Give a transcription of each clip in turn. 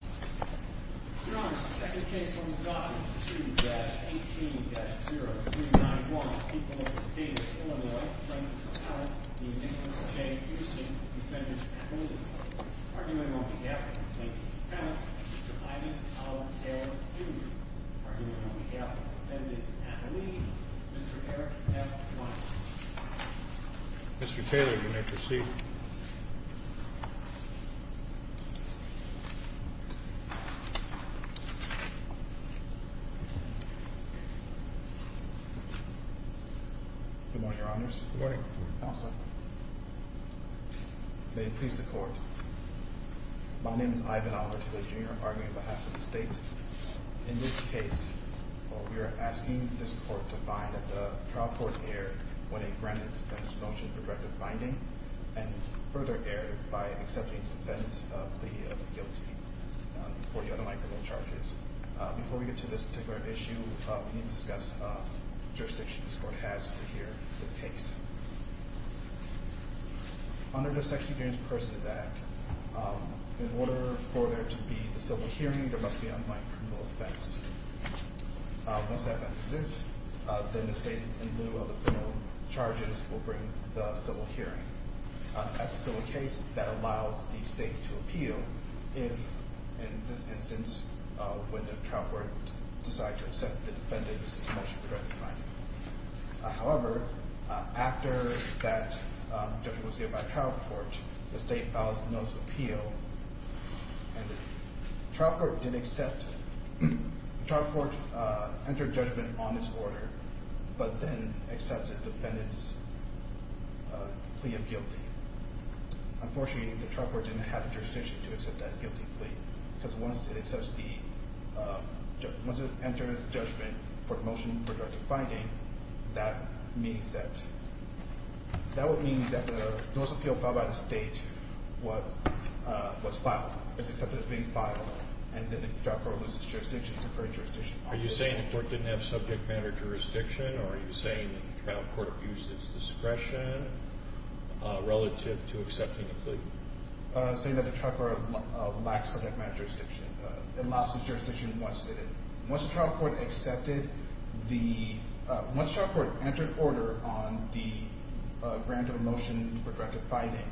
You're on the second case on the gossip, 2-18-0391, people of the state of Illinois, plaintiff's appellate, the indifference of J. Houston, defendant's appellate. Arguing on behalf of the plaintiff's appellate, Mr. Ivan A. Taylor, Jr. Arguing on behalf of the defendant's appellee, Mr. Eric F. Watson. Mr. Taylor, you may proceed. Good morning, Your Honors. Good morning, Counsel. May it please the Court, my name is Ivan A. Taylor, Jr. Arguing on behalf of the state. In this case, we are asking this Court to find that the trial court erred when it granted the defendant's motion for directed binding, and further erred by accepting the defendant's plea of guilty for the unamicable charges. Before we get to this particular issue, we need to discuss the jurisdiction this Court has to hear this case. Under the Sexual Offenses Persons Act, in order for there to be a civil hearing, there must be a criminal offense. Once that offense exists, then the state, in lieu of the criminal charges, will bring the civil hearing. As a civil case, that allows the state to appeal if, in this instance, when the trial court decides to accept the defendant's motion for directed binding. However, after that judgment was given by the trial court, the state filed a notice of appeal. The trial court entered judgment on its order, but then accepted the defendant's plea of guilty. Unfortunately, the trial court didn't have the jurisdiction to accept that guilty plea. Once it enters judgment for the motion for directed binding, that would mean that the notice of appeal filed by the state was accepted as being filed, and then the trial court loses jurisdiction. Are you saying the court didn't have subject matter jurisdiction, or are you saying that the trial court abused its discretion relative to accepting a plea? I'm saying that the trial court lacked subject matter jurisdiction. It lost its jurisdiction once it did it. Once the trial court entered order on the grant of a motion for directed binding,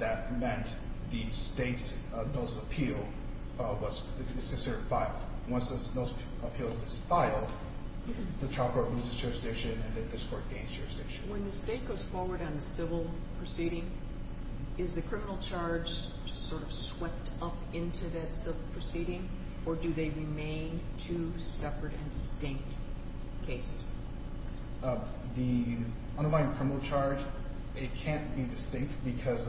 that meant the state's notice of appeal was considered filed. Once the notice of appeal is filed, the trial court loses jurisdiction, and then this court gains jurisdiction. When the state goes forward on the civil proceeding, is the criminal charge just sort of swept up into that civil proceeding, or do they remain two separate and distinct cases? The underlying criminal charge, it can't be distinct because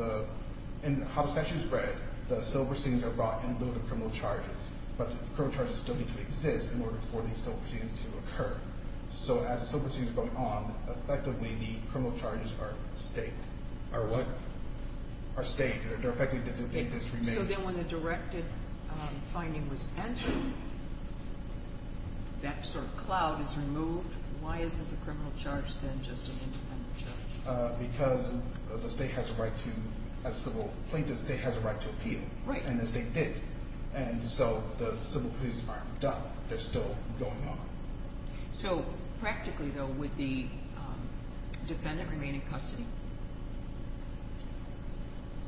in how the statute is read, the civil proceedings are brought in lieu of the criminal charges, but the criminal charges still need to exist in order for these civil proceedings to occur. So as civil proceedings are going on, effectively the criminal charges are state. Are what? Are state. They're effectively distinct. So then when the directed finding was entered, that sort of cloud is removed. Why isn't the criminal charge then just an independent charge? Because the state has a right to, as civil plaintiffs, the state has a right to appeal, and the state did. And so the civil proceedings aren't done. They're still going on. So practically, though, would the defendant remain in custody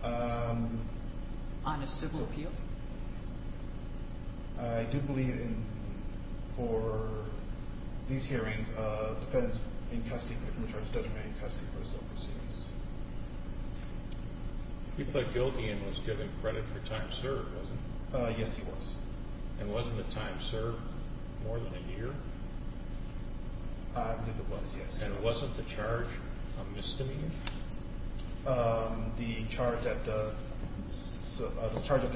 on a civil appeal? I do believe in, for these hearings, defendants in custody for the criminal charges does remain in custody for the civil proceedings. He pled guilty and was given credit for time served, wasn't he? Yes, he was. And wasn't the time served more than a year? I believe it was, yes. And wasn't the charge a misdemeanor? The charge that the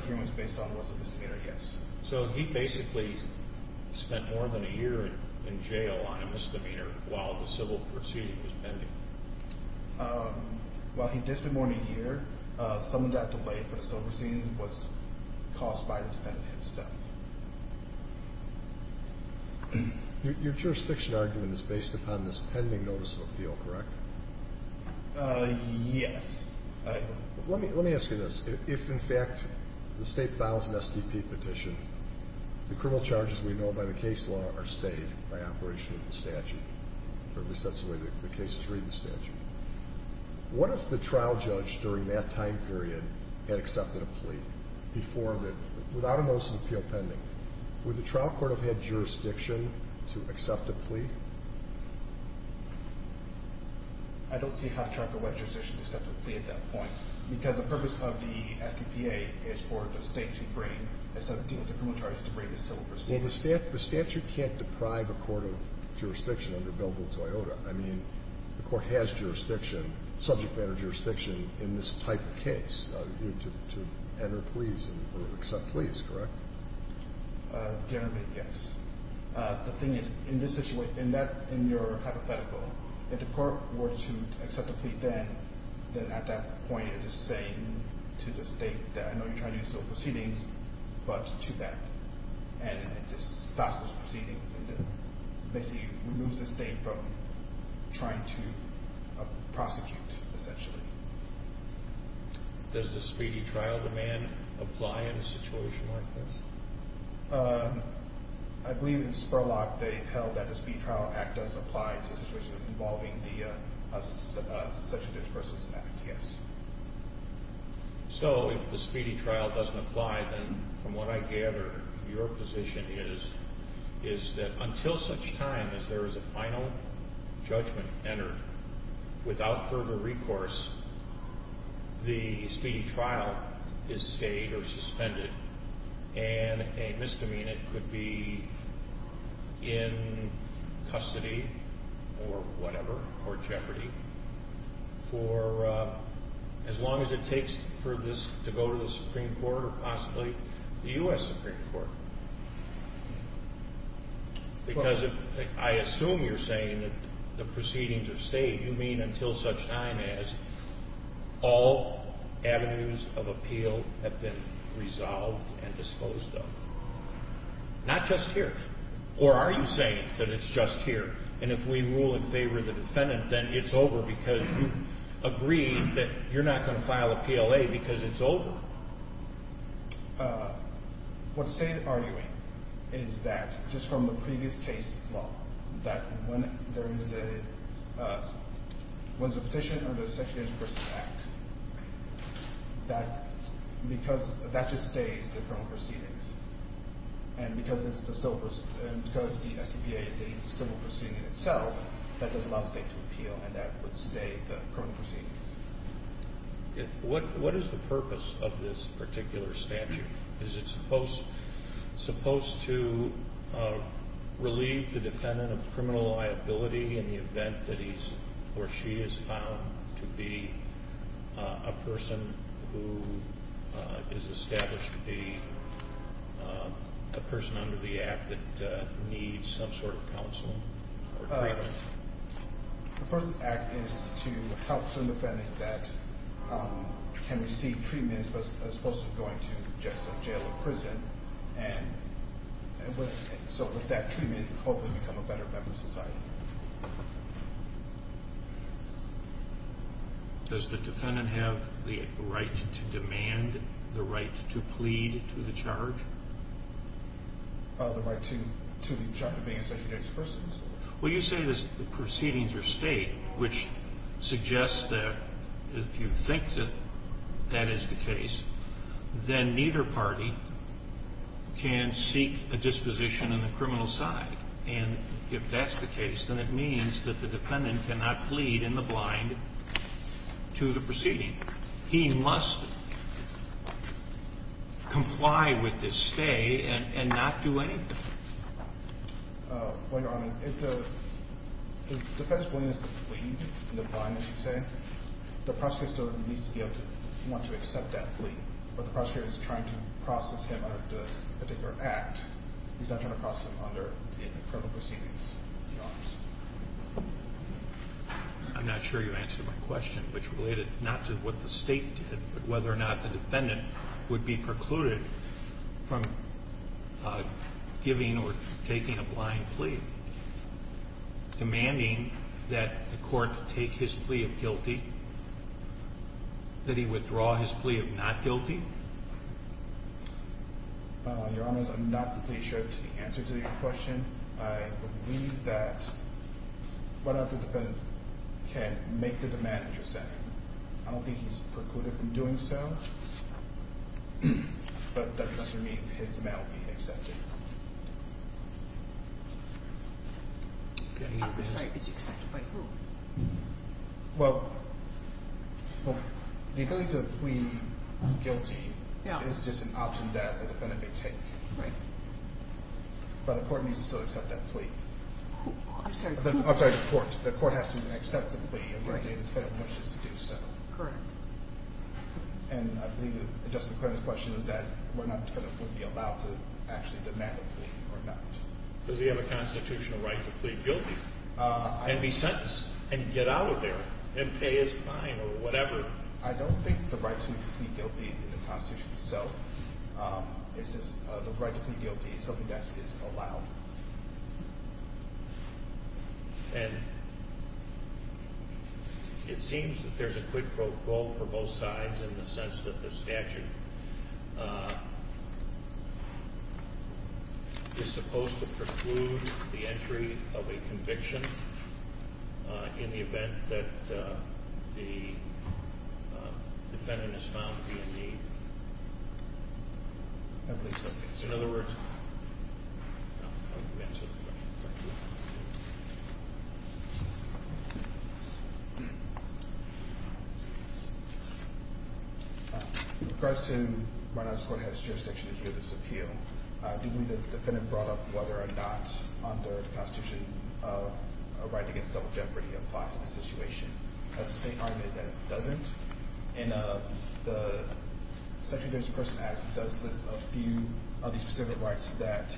hearing was based on was a misdemeanor, yes. So he basically spent more than a year in jail on a misdemeanor while the civil proceeding was pending. While he did spend more than a year, some of that delay for the civil proceeding was caused by the defendant himself. Your jurisdiction argument is based upon this pending notice of appeal, correct? Yes. Let me ask you this. If, in fact, the state files an SDP petition, the criminal charges we know by the case law are stayed by operation of the statute, or at least that's the way the case is read in the statute, what if the trial judge during that time period had accepted a plea without a notice of appeal pending? Would the trial court have had jurisdiction to accept a plea? I don't see how the trial court would have had jurisdiction to accept a plea at that point because the purpose of the SDPA is for the state to bring a set of criminal charges to bring a civil proceeding. Well, the statute can't deprive a court of jurisdiction under Bill Bill-Toyota. I mean, the court has jurisdiction, subject matter jurisdiction, in this type of case to enter pleas or accept pleas, correct? Generally, yes. The thing is, in this situation, in your hypothetical, if the court were to accept a plea then, at that point, it is saying to the state that I know you're trying to do civil proceedings, but to that. And it just stops those proceedings and basically removes the state from trying to prosecute, essentially. Does the speedy trial demand apply in a situation like this? I believe in Spurlock they've held that the Speedy Trial Act does apply to a situation involving the Susception of Innocence Act, yes. So, if the speedy trial doesn't apply, then, from what I gather, your position is that until such time as there is a final judgment entered, without further recourse, the speedy trial is stayed or suspended and a misdemeanant could be in custody or whatever, or jeopardy, for as long as it takes for this to go to the Supreme Court or possibly the U.S. Supreme Court. Because I assume you're saying that the proceedings are stayed. You mean until such time as all avenues of appeal have been resolved and disposed of? Not just here. Or are you saying that it's just here? And if we rule in favor of the defendant, then it's over because you agreed that you're not going to file a PLA because it's over. What the State is arguing is that, just from the previous case law, that when there is a petition under the Suspension of Innocence Act, that just stays the criminal proceedings. And because the STPA is a civil proceeding in itself, that does allow the State to appeal and that would stay the criminal proceedings. What is the purpose of this particular statute? Is it supposed to relieve the defendant of criminal liability in the event that he or she is found to be a person who is established to be a person under the Act that needs some sort of counsel? The purpose of the Act is to help certain defendants that can receive treatment as opposed to going to just a jail or prison. And so with that treatment, hopefully become a better member of society. Does the defendant have the right to demand the right to plead to the charge? The right to the charge of being an established person? Well, you say the proceedings are State, which suggests that if you think that that is the case, then neither party can seek a disposition on the criminal side. And if that's the case, then it means that the defendant cannot plead in the blind to the proceeding. He must comply with this stay and not do anything. Well, Your Honor, if the defendant is willing to plead in the blind, as you say, the prosecutor still needs to be able to want to accept that plea. But the prosecutor is trying to process him under this particular Act. He's not trying to process him under the criminal proceedings. I'm not sure you answered my question, which related not to what the State did, but whether or not the defendant would be precluded from giving or taking a blind plea. Demanding that the court take his plea of guilty, that he withdraw his plea of not guilty? Your Honor, I'm not completely sure the answer to your question. I believe that whether or not the defendant can make the demand that you're saying. I don't think he's precluded from doing so, but that's not going to mean his demand will be accepted. I'm sorry, it's accepted by who? Well, the ability to plead guilty is just an option that the defendant may take. But the court needs to still accept that plea. I'm sorry, the court. The court has to accept the plea if the defendant wishes to do so. Correct. And I believe that Justice McClendon's question is that the defendant would be allowed to actually demand a plea or not. Does he have a constitutional right to plead guilty and be sentenced and get out of there and pay his fine or whatever? I don't think the right to plead guilty is in the Constitution itself. It's just the right to plead guilty is something that is allowed. And it seems that there's a quid pro quo for both sides in the sense that the statute is supposed to preclude the entry of a conviction in the event that the defendant is found to be in need. I believe so. In other words? I hope you answered the question. Thank you. With regards to why not this court has jurisdiction to hear this appeal, do you believe that the defendant brought up whether or not under the Constitution a right against double jeopardy applies to this situation? The Constitution has the same argument that it doesn't. And the Section of the Injury to Person Act does list a few of the specific rights that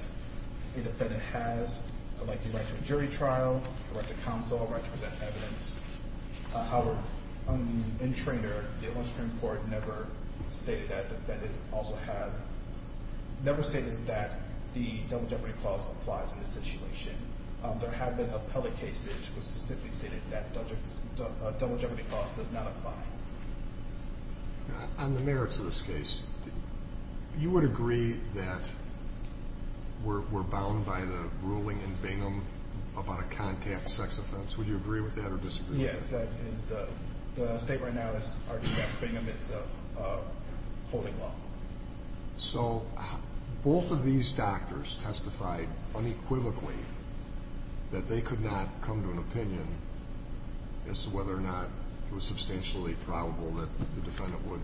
a defendant has, like the right to a jury trial, the right to counsel, the right to present evidence. However, in Traynor, the Illinois Supreme Court never stated that the defendant also had – never stated that the double jeopardy clause applies in this situation. There have been appellate cases that specifically stated that double jeopardy clause does not apply. On the merits of this case, you would agree that we're bound by the ruling in Bingham about a contact sex offense. Would you agree with that or disagree? Yes, that is the – the state right now is arguing that Bingham is a holding law. So both of these doctors testified unequivocally that they could not come to an opinion as to whether or not it was substantially probable that the defendant would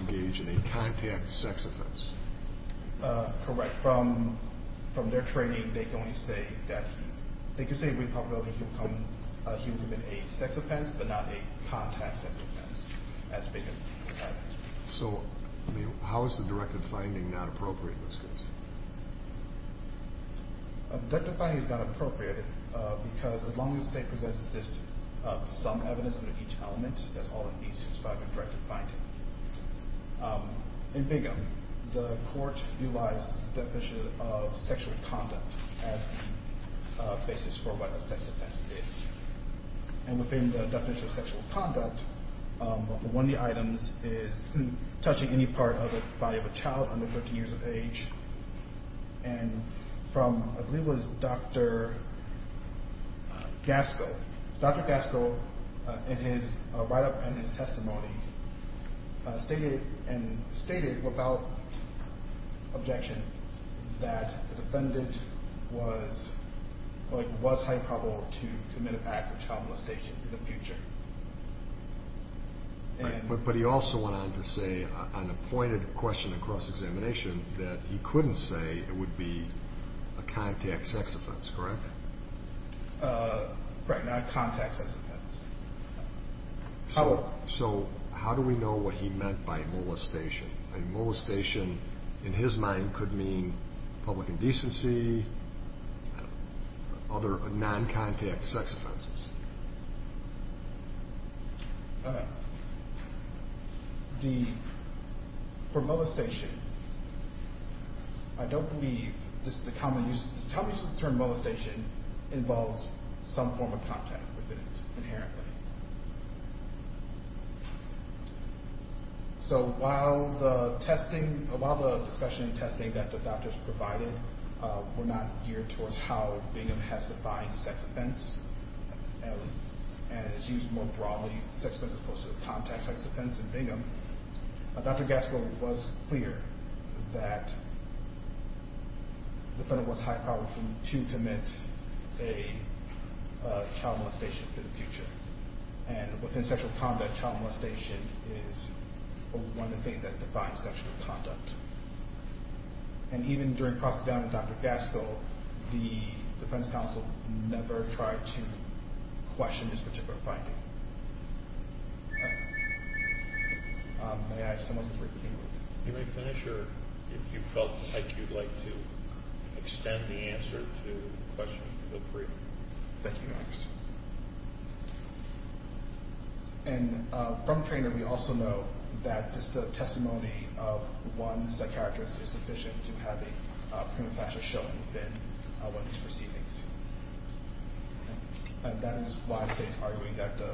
engage in a contact sex offense. Correct. From – from their training, they can only say that he – they can say a Republican can come – he would commit a sex offense, but not a contact sex offense, as Bingham said. So, I mean, how is the directive finding not appropriate in this case? The directive finding is not appropriate because as long as the state presents this – some evidence under each element, that's all it needs to describe the directive finding. In Bingham, the court utilized the definition of sexual conduct as the basis for what a sex offense is. And within the definition of sexual conduct, one of the items is touching any part of the body of a child under 13 years of age. And from – I believe it was Dr. Gasco. Dr. Gasco, in his write-up and his testimony, stated – and stated without objection that the defendant was – like, was highly probable to commit an act of child molestation in the future. Right, but he also went on to say on a pointed question in cross-examination that he couldn't say it would be a contact sex offense, correct? Right, not a contact sex offense. So – so how do we know what he meant by molestation? And molestation, in his mind, could mean public indecency, other non-contact sex offenses. The – for molestation, I don't believe this is a common use. Tell me if the term molestation involves some form of contact with it inherently. So while the testing – while the discussion and testing that the doctors provided were not geared towards how Bingham has defined sex offense, and it's used more broadly, sex offense as opposed to contact sex offense in Bingham, Dr. Gasco was clear that the defendant was highly probable to commit a child molestation in the future. And within sexual conduct, child molestation is one of the things that defines sexual conduct. And even during cross-examination with Dr. Gasco, the defense counsel never tried to question his particular finding. You may finish, or if you felt like you'd like to extend the answer to the question, feel free. Thank you, Max. And from Traynor, we also know that just the testimony of one psychiatrist is sufficient to have a prima facie showing within one's proceedings. And that is why the state is arguing that the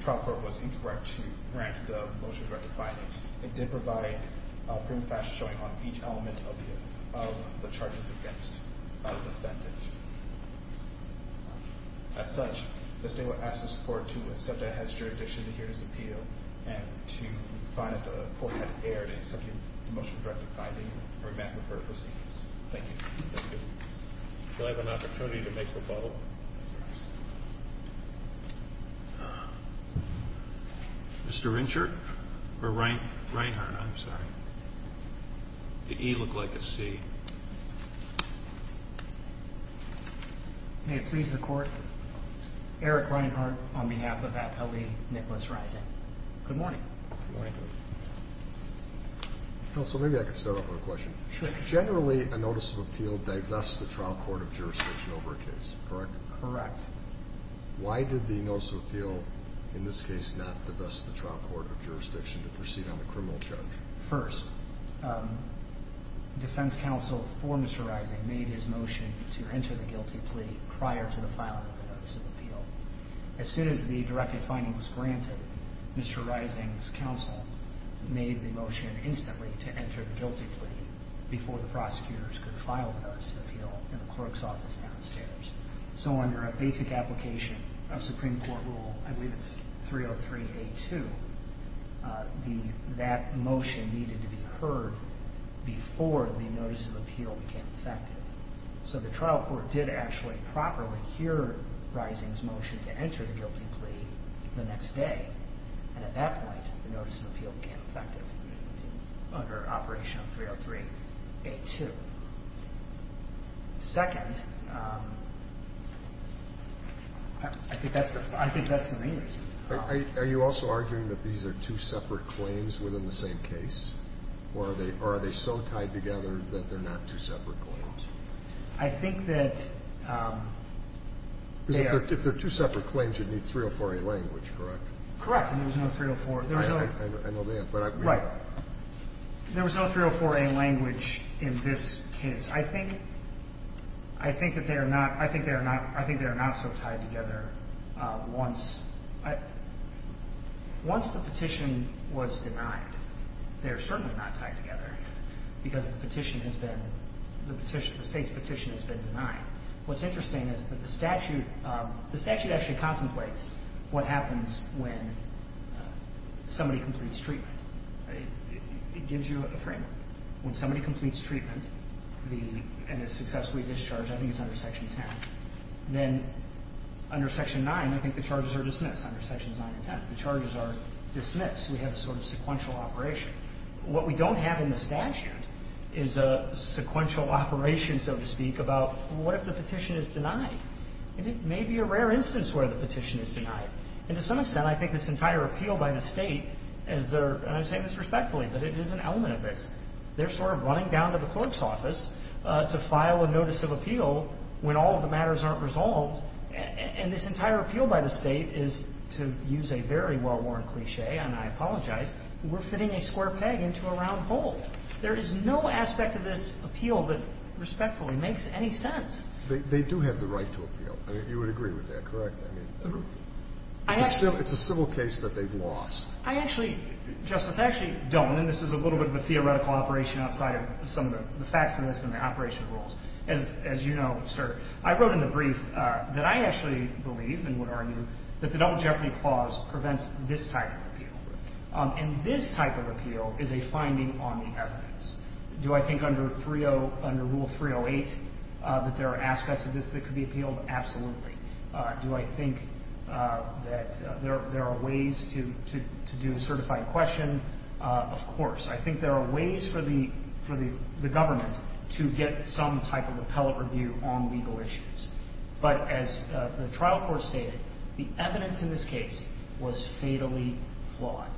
trial court was incorrect to grant the motion of directed finding. It did provide a prima facie showing on each element of the charges against the defendant. As such, the state would ask the support to accept that as jurisdiction to hear this appeal, and to find that the court had erred in accepting the motion of directed finding, and remand the court proceedings. Thank you. Thank you. Do I have an opportunity to make a rebuttal? Mr. Rinchard? Or Reinhardt? I'm sorry. The E looked like a C. May it please the court, Eric Reinhardt, on behalf of Apt. L.E. Nicholas Rising. Good morning. Good morning. Counsel, maybe I can start off with a question. Sure. Generally, a notice of appeal divests the trial court of jurisdiction over a case, correct? Correct. Why did the notice of appeal, in this case, not divest the trial court of jurisdiction to proceed on the criminal charge? First, defense counsel for Mr. Rising made his motion to enter the guilty plea prior to the filing of the notice of appeal. As soon as the directed finding was granted, Mr. Rising's counsel made the motion instantly to enter the guilty plea before the prosecutors could file the notice of appeal in the clerk's office downstairs. So under a basic application of Supreme Court rule, I believe it's 303A2, that motion needed to be heard before the notice of appeal became effective. So the trial court did actually properly hear Rising's motion to enter the guilty plea the next day. And at that point, the notice of appeal became effective under operation of 303A2. Second, I think that's the main reason. Are you also arguing that these are two separate claims within the same case? Or are they so tied together that they're not two separate claims? I think that they are. Because if they're two separate claims, you'd need 304A language, correct? Correct. And there was no 304. I know that. Right. There was no 304A language in this case. Yes, I think that they are not so tied together once the petition was denied. They are certainly not tied together because the petition has been, the State's petition has been denied. What's interesting is that the statute actually contemplates what happens when somebody completes treatment. It gives you a framework. When somebody completes treatment and is successfully discharged, I think it's under Section 10. Then under Section 9, I think the charges are dismissed under Sections 9 and 10. The charges are dismissed. We have a sort of sequential operation. What we don't have in the statute is a sequential operation, so to speak, about what if the petition is denied. And it may be a rare instance where the petition is denied. And to some extent, I think this entire appeal by the State is their, and I'm saying this respectfully, but it is an element of this. They're sort of running down to the clerk's office to file a notice of appeal when all of the matters aren't resolved. And this entire appeal by the State is, to use a very well-worn cliche, and I apologize, we're fitting a square peg into a round hole. There is no aspect of this appeal that respectfully makes any sense. They do have the right to appeal. You would agree with that, correct? I mean, it's a civil case that they've lost. I actually, Justice, I actually don't. And this is a little bit of a theoretical operation outside of some of the facts in this and the operation rules. As you know, sir, I wrote in the brief that I actually believe and would argue that the Double Jeopardy Clause prevents this type of appeal. And this type of appeal is a finding on the evidence. Do I think under Rule 308 that there are aspects of this that could be appealed? Absolutely. Do I think that there are ways to do a certified question? Of course. I think there are ways for the government to get some type of appellate review on legal issues. But as the trial court stated, the evidence in this case was fatally flawed.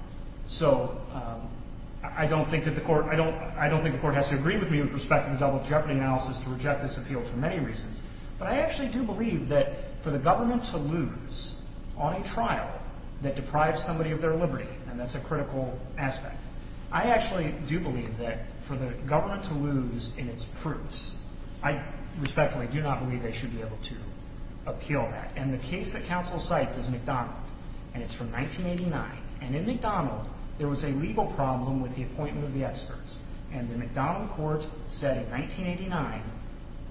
So I don't think that the court has to agree with me with respect to the double jeopardy analysis to reject this appeal for many reasons. But I actually do believe that for the government to lose on a trial that deprives somebody of their liberty, and that's a critical aspect, I actually do believe that for the government to lose in its proofs, I respectfully do not believe they should be able to appeal that. And the case that counsel cites is McDonald, and it's from 1989. And in McDonald, there was a legal problem with the appointment of the experts. And the McDonald court said in 1989,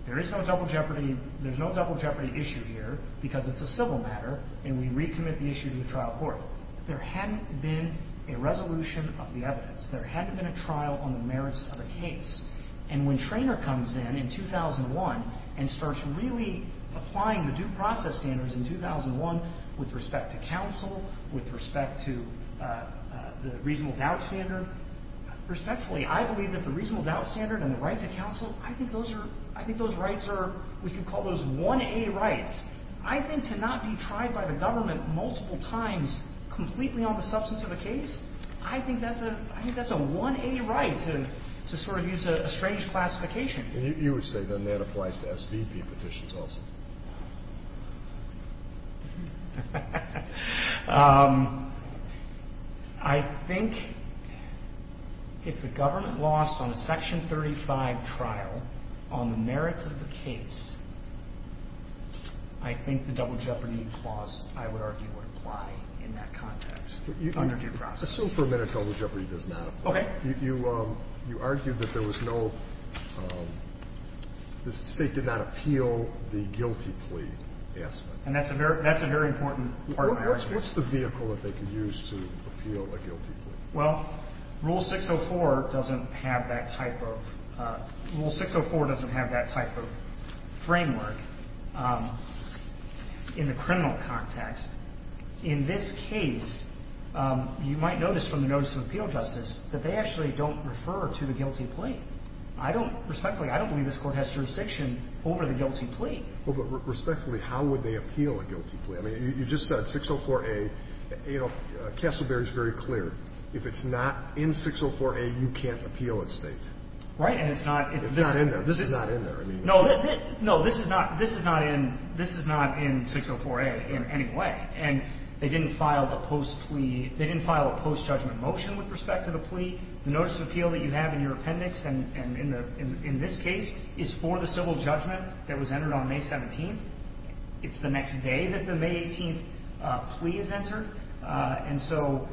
there is no double jeopardy issue here because it's a civil matter, and we recommit the issue to the trial court. But there hadn't been a resolution of the evidence. There hadn't been a trial on the merits of the case. And when Treanor comes in in 2001 and starts really applying the due process standards in 2001 with respect to counsel, with respect to the reasonable doubt standard, respectfully, I believe that the reasonable doubt standard and the right to counsel, I think those rights are, we could call those 1A rights. I think to not be tried by the government multiple times completely on the substance of a case, I think that's a 1A right to sort of use a strange classification. And you would say then that applies to SVP petitions also? I think if the government lost on a Section 35 trial on the merits of the case, I think the double jeopardy clause, I would argue, would apply in that context under due process. Assume for a minute double jeopardy does not apply. Okay. You argued that there was no, the State did not appeal the guilty plea. And that's a very important part of my argument. What's the vehicle that they could use to appeal a guilty plea? Well, Rule 604 doesn't have that type of framework in the criminal context. In this case, you might notice from the notice of appeal justice that they actually don't refer to the guilty plea. I don't, respectfully, I don't believe this Court has jurisdiction over the guilty plea. Well, but respectfully, how would they appeal a guilty plea? I mean, you just said 604a. You know, Castleberry is very clear. If it's not in 604a, you can't appeal at State. Right, and it's not. It's not in there. This is not in there. No, this is not in 604a in any way. And they didn't file a post-plea, they didn't file a post-judgment motion with respect to the plea. The notice of appeal that you have in your appendix and in this case is for the civil judgment that was entered on May 17th. It's the next day that the May 18th plea is entered. And so,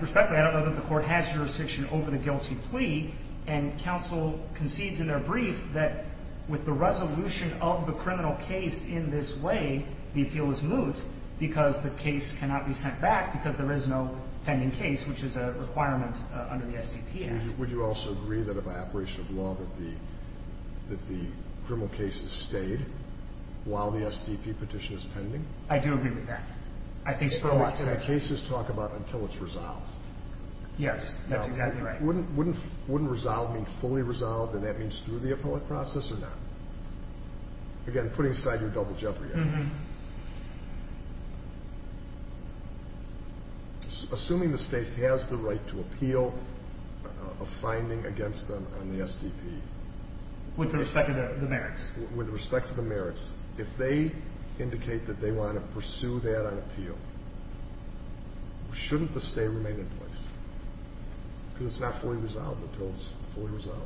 respectfully, I don't know that the Court has jurisdiction over the guilty plea. And counsel concedes in their brief that with the resolution of the criminal case in this way, the appeal is moot because the case cannot be sent back because there is no pending case, which is a requirement under the SDP Act. Would you also agree that if by operation of law that the criminal case is stayed while the SDP petition is pending? I do agree with that. I think so. The cases talk about until it's resolved. Yes, that's exactly right. Now, wouldn't resolve mean fully resolved, and that means through the appellate process or not? Again, putting aside your double jeopardy. Assuming the state has the right to appeal a finding against them on the SDP. With respect to the merits. With respect to the merits, if they indicate that they want to pursue that on appeal, shouldn't the stay remain in place? Because it's not fully resolved until it's fully resolved.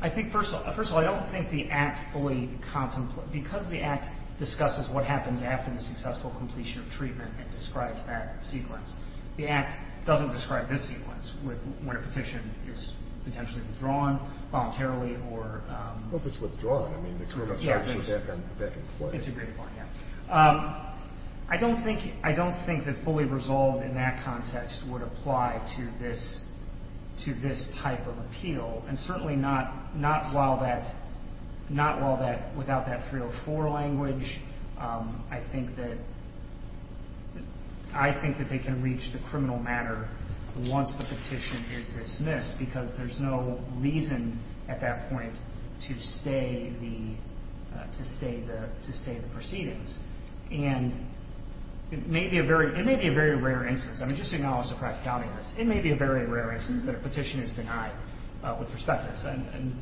I think, first of all, I don't think the Act fully contemplates. Because the Act discusses what happens after the successful completion of treatment, it describes that sequence. The Act doesn't describe this sequence when a petition is potentially withdrawn voluntarily or... It's a great point, yeah. I don't think that fully resolved in that context would apply to this type of appeal. And certainly not while that, without that 304 language. I think that they can reach the criminal matter once the petition is dismissed. Because there's no reason at that point to stay the proceedings. And it may be a very rare instance. I mean, just to acknowledge the practicality of this. It may be a very rare instance that a petition is denied with respect to this. And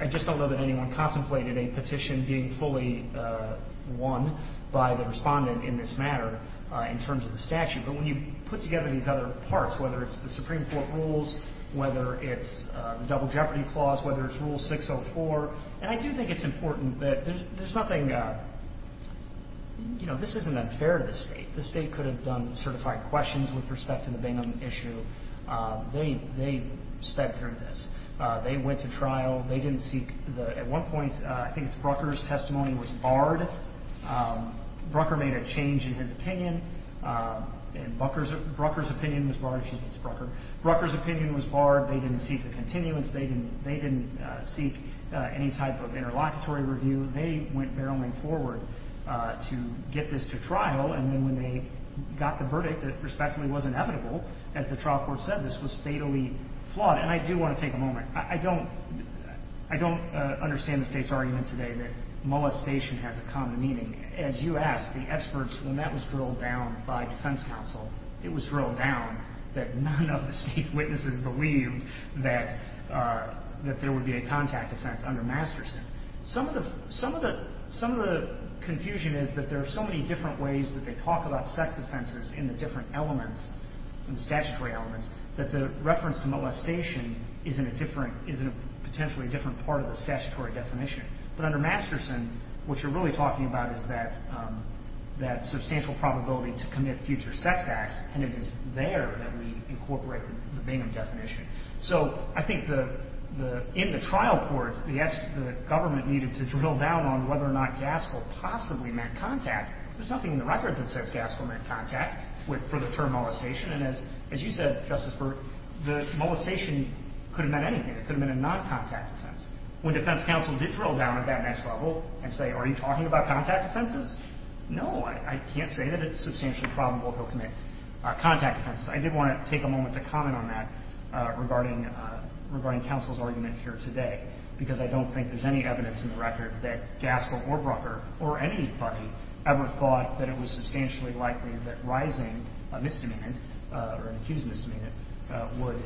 I just don't know that anyone contemplated a petition being fully won by the respondent in this matter in terms of the statute. But when you put together these other parts, whether it's the Supreme Court rules, whether it's the Double Jeopardy Clause, whether it's Rule 604... And I do think it's important that there's something... You know, this isn't unfair to the State. The State could have done certified questions with respect to the Bingham issue. They sped through this. They went to trial. They didn't seek... At one point, I think it's Brucker's testimony was barred. Brucker made a change in his opinion. And Brucker's opinion was barred. Excuse me, it's Brucker. Brucker's opinion was barred. They didn't seek a continuance. They didn't seek any type of interlocutory review. They went barreling forward to get this to trial. And then when they got the verdict that respectfully was inevitable, as the trial court said, this was fatally flawed. And I do want to take a moment. I don't understand the State's argument today that molestation has a common meaning. As you asked, the experts, when that was drilled down by defense counsel, it was drilled down that none of the State's witnesses believed that there would be a contact offense under Masterson. Some of the confusion is that there are so many different ways that they talk about sex offenses in the different elements, in the statutory elements, that the reference to molestation is in a different, is in a potentially different part of the statutory definition. But under Masterson, what you're really talking about is that substantial probability to commit future sex acts, and it is there that we incorporate the Bingham definition. So I think in the trial court, the government needed to drill down on whether or not Gaskell possibly met contact. There's nothing in the record that says Gaskell met contact for the term molestation. And as you said, Justice Berg, the molestation could have meant anything. It could have been a non-contact offense. When defense counsel did drill down at that next level and say, are you talking about contact offenses? No, I can't say that it's substantially probable he'll commit contact offenses. I did want to take a moment to comment on that regarding counsel's argument here today, because I don't think there's any evidence in the record that Gaskell or Brucker or any party ever thought that it was substantially likely that rising a misdemeanor or an accused misdemeanor would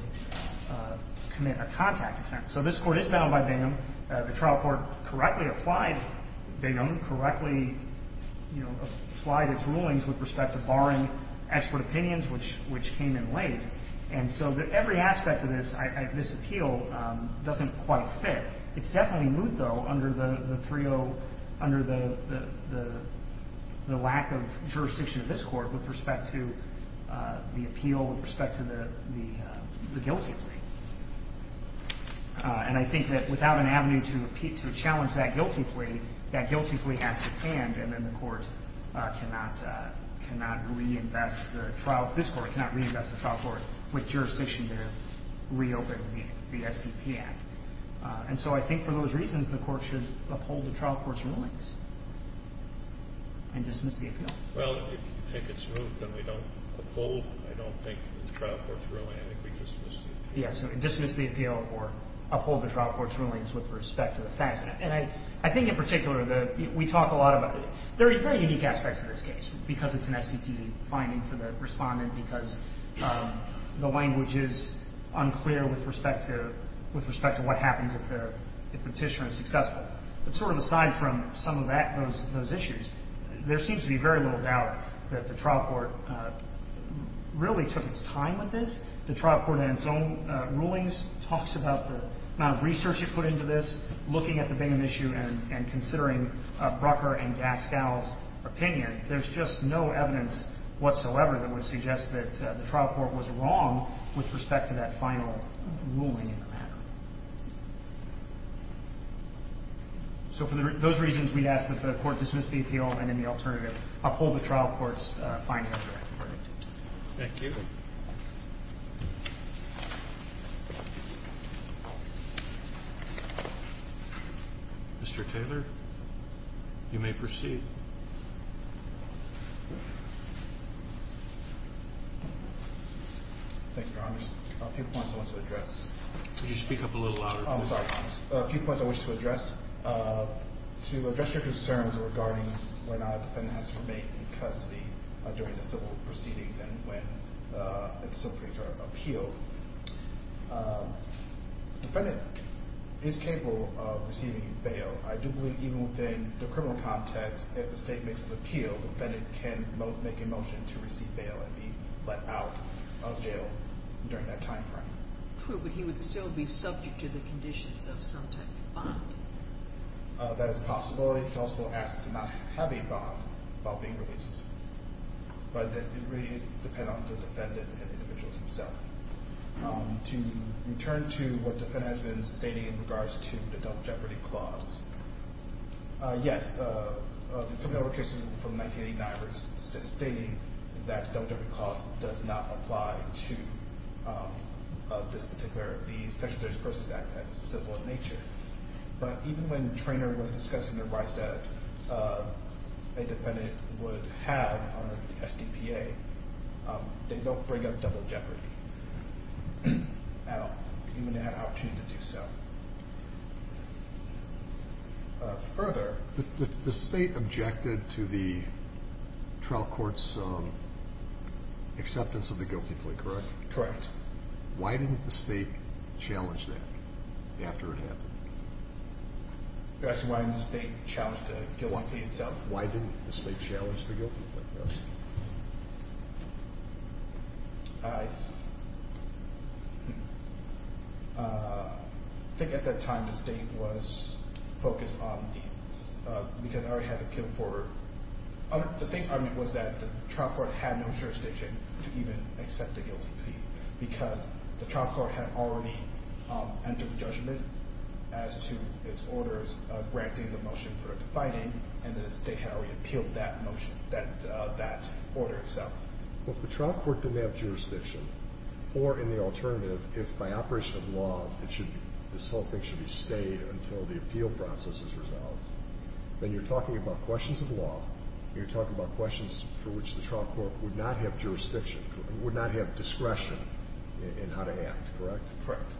commit a contact offense. So this Court is bound by Bingham. The trial court correctly applied Bingham, correctly, you know, applied its rulings with respect to barring expert opinions, which came in late. And so every aspect of this appeal doesn't quite fit. It's definitely moot, though, under the lack of jurisdiction of this Court with respect to the appeal, with respect to the guilty plea. And I think that without an avenue to challenge that guilty plea, that guilty plea has to stand and then the Court cannot reinvest the trial court, this Court cannot reinvest the trial court with jurisdiction to reopen the SDP Act. And so I think for those reasons, the Court should uphold the trial court's rulings and dismiss the appeal. Well, if you think it's moot, then we don't uphold. I don't think the trial court's ruling, I think we dismiss the appeal. Yes, dismiss the appeal or uphold the trial court's rulings with respect to the facts. And I think in particular, we talk a lot about the very unique aspects of this case, because it's an SDP finding for the Respondent, because the language is unclear with respect to what happens if the Petitioner is successful. But sort of aside from some of those issues, there seems to be very little doubt that the trial court really took its time with this. The trial court in its own rulings talks about the amount of research it put into this, looking at the Bingham issue and considering Brucker and Gaskell's opinion. There's just no evidence whatsoever that would suggest that the trial court was wrong with respect to that final ruling in the matter. So for those reasons, we'd ask that the Court dismiss the appeal and in the alternative, uphold the trial court's findings. Thank you. Mr. Taylor, you may proceed. Thank you, Your Honor. A few points I want to address. Could you speak up a little louder? A few points I wish to address. To address your concerns regarding whether or not a defendant has to remain in custody during the civil proceedings and when the civil proceedings are appealed, the defendant is capable of receiving bail. I do believe even within the criminal context, if the State makes an appeal, the defendant can make a motion to receive bail and be let out of jail during that time frame. True, but he would still be subject to the conditions of some type of bond. That is a possibility. He could also ask to not have a bond while being released, but it would really depend on the defendant and the individual himself. To return to what the defendant has been stating in regards to the Double Jeopardy Clause, yes, there were cases from 1989 stating that the Double Jeopardy Clause does not apply to this particular section of the Persons Act as a civil in nature. But even when Treanor was discussing the rights that a defendant would have under the SDPA, they don't bring up Double Jeopardy at all, even when they had an opportunity to do so. Further... The State objected to the trial court's acceptance of the guilty plea, correct? Correct. Why didn't the State challenge that after it happened? You're asking why didn't the State challenge the guilty plea itself? Why didn't the State challenge the guilty plea? I think at that time the State was focused on the... because it already had appealed for... The State's argument was that the trial court had no jurisdiction to even accept the guilty plea because the trial court had already entered judgment as to its orders granting the motion for defining, and the State had already appealed that order itself. Well, if the trial court didn't have jurisdiction, or in the alternative, if by operation of law this whole thing should be stayed until the appeal process is resolved, then you're talking about questions of law, you're talking about questions for which the trial court would not have jurisdiction, would not have discretion in how to act, correct? Correct.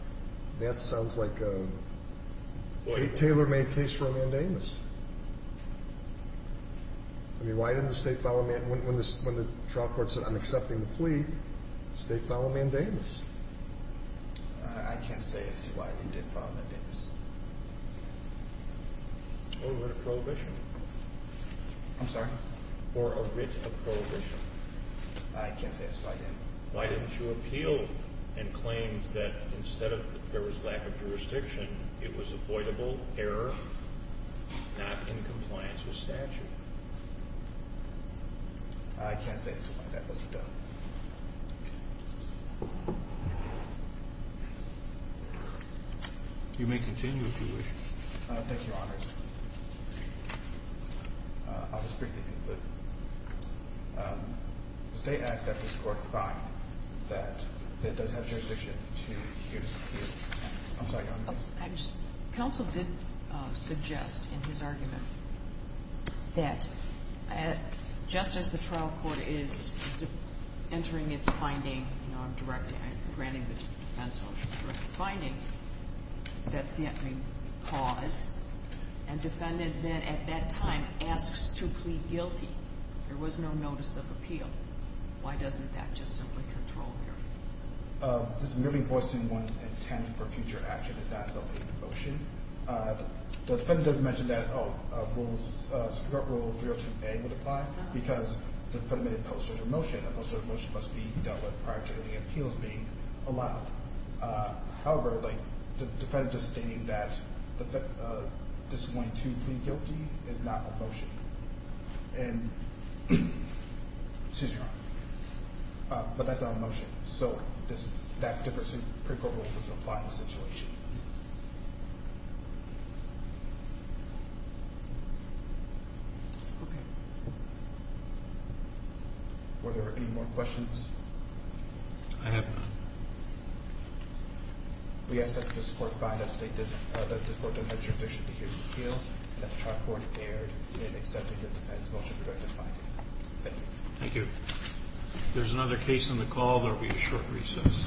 That sounds like a Taylor-made case for a mandamus. I mean, why didn't the State follow a mandamus? When the trial court said, I'm accepting the plea, the State followed a mandamus. I can't say as to why they did follow a mandamus. Or a writ of prohibition. I'm sorry? Or a writ of prohibition. I can't say as to why they did. Why didn't you appeal and claim that instead of there was lack of jurisdiction, it was avoidable error, not in compliance with statute? I can't say as to why that wasn't done. You may continue if you wish. Thank you, Your Honors. I'll just briefly conclude. The State acts after the court finds that it does have jurisdiction to hear the plea. I'm sorry, Your Honors. Counsel did suggest in his argument that just as the trial court is entering its finding, you know, I'm directing, I'm granting the defense official a direct finding, that's the entry clause, and defendant then at that time asks to plead guilty. There was no notice of appeal. Why doesn't that just simply control hearing? This is merely voicing one's intent for future action. It's not something in the motion. The defendant doesn't mention that rules, Superior Court Rule 302A would apply because it's a post-judgmental motion. A post-judgmental motion must be dealt with prior to any appeals being allowed. However, the defendant is stating that disappointing to plead guilty is not a motion. And, excuse me, Your Honor, but that's not a motion. So that difference in Superior Court Rule doesn't apply in this situation. Okay. Were there any more questions? I have none. Thank you. If there's another case on the call, there will be a short recess.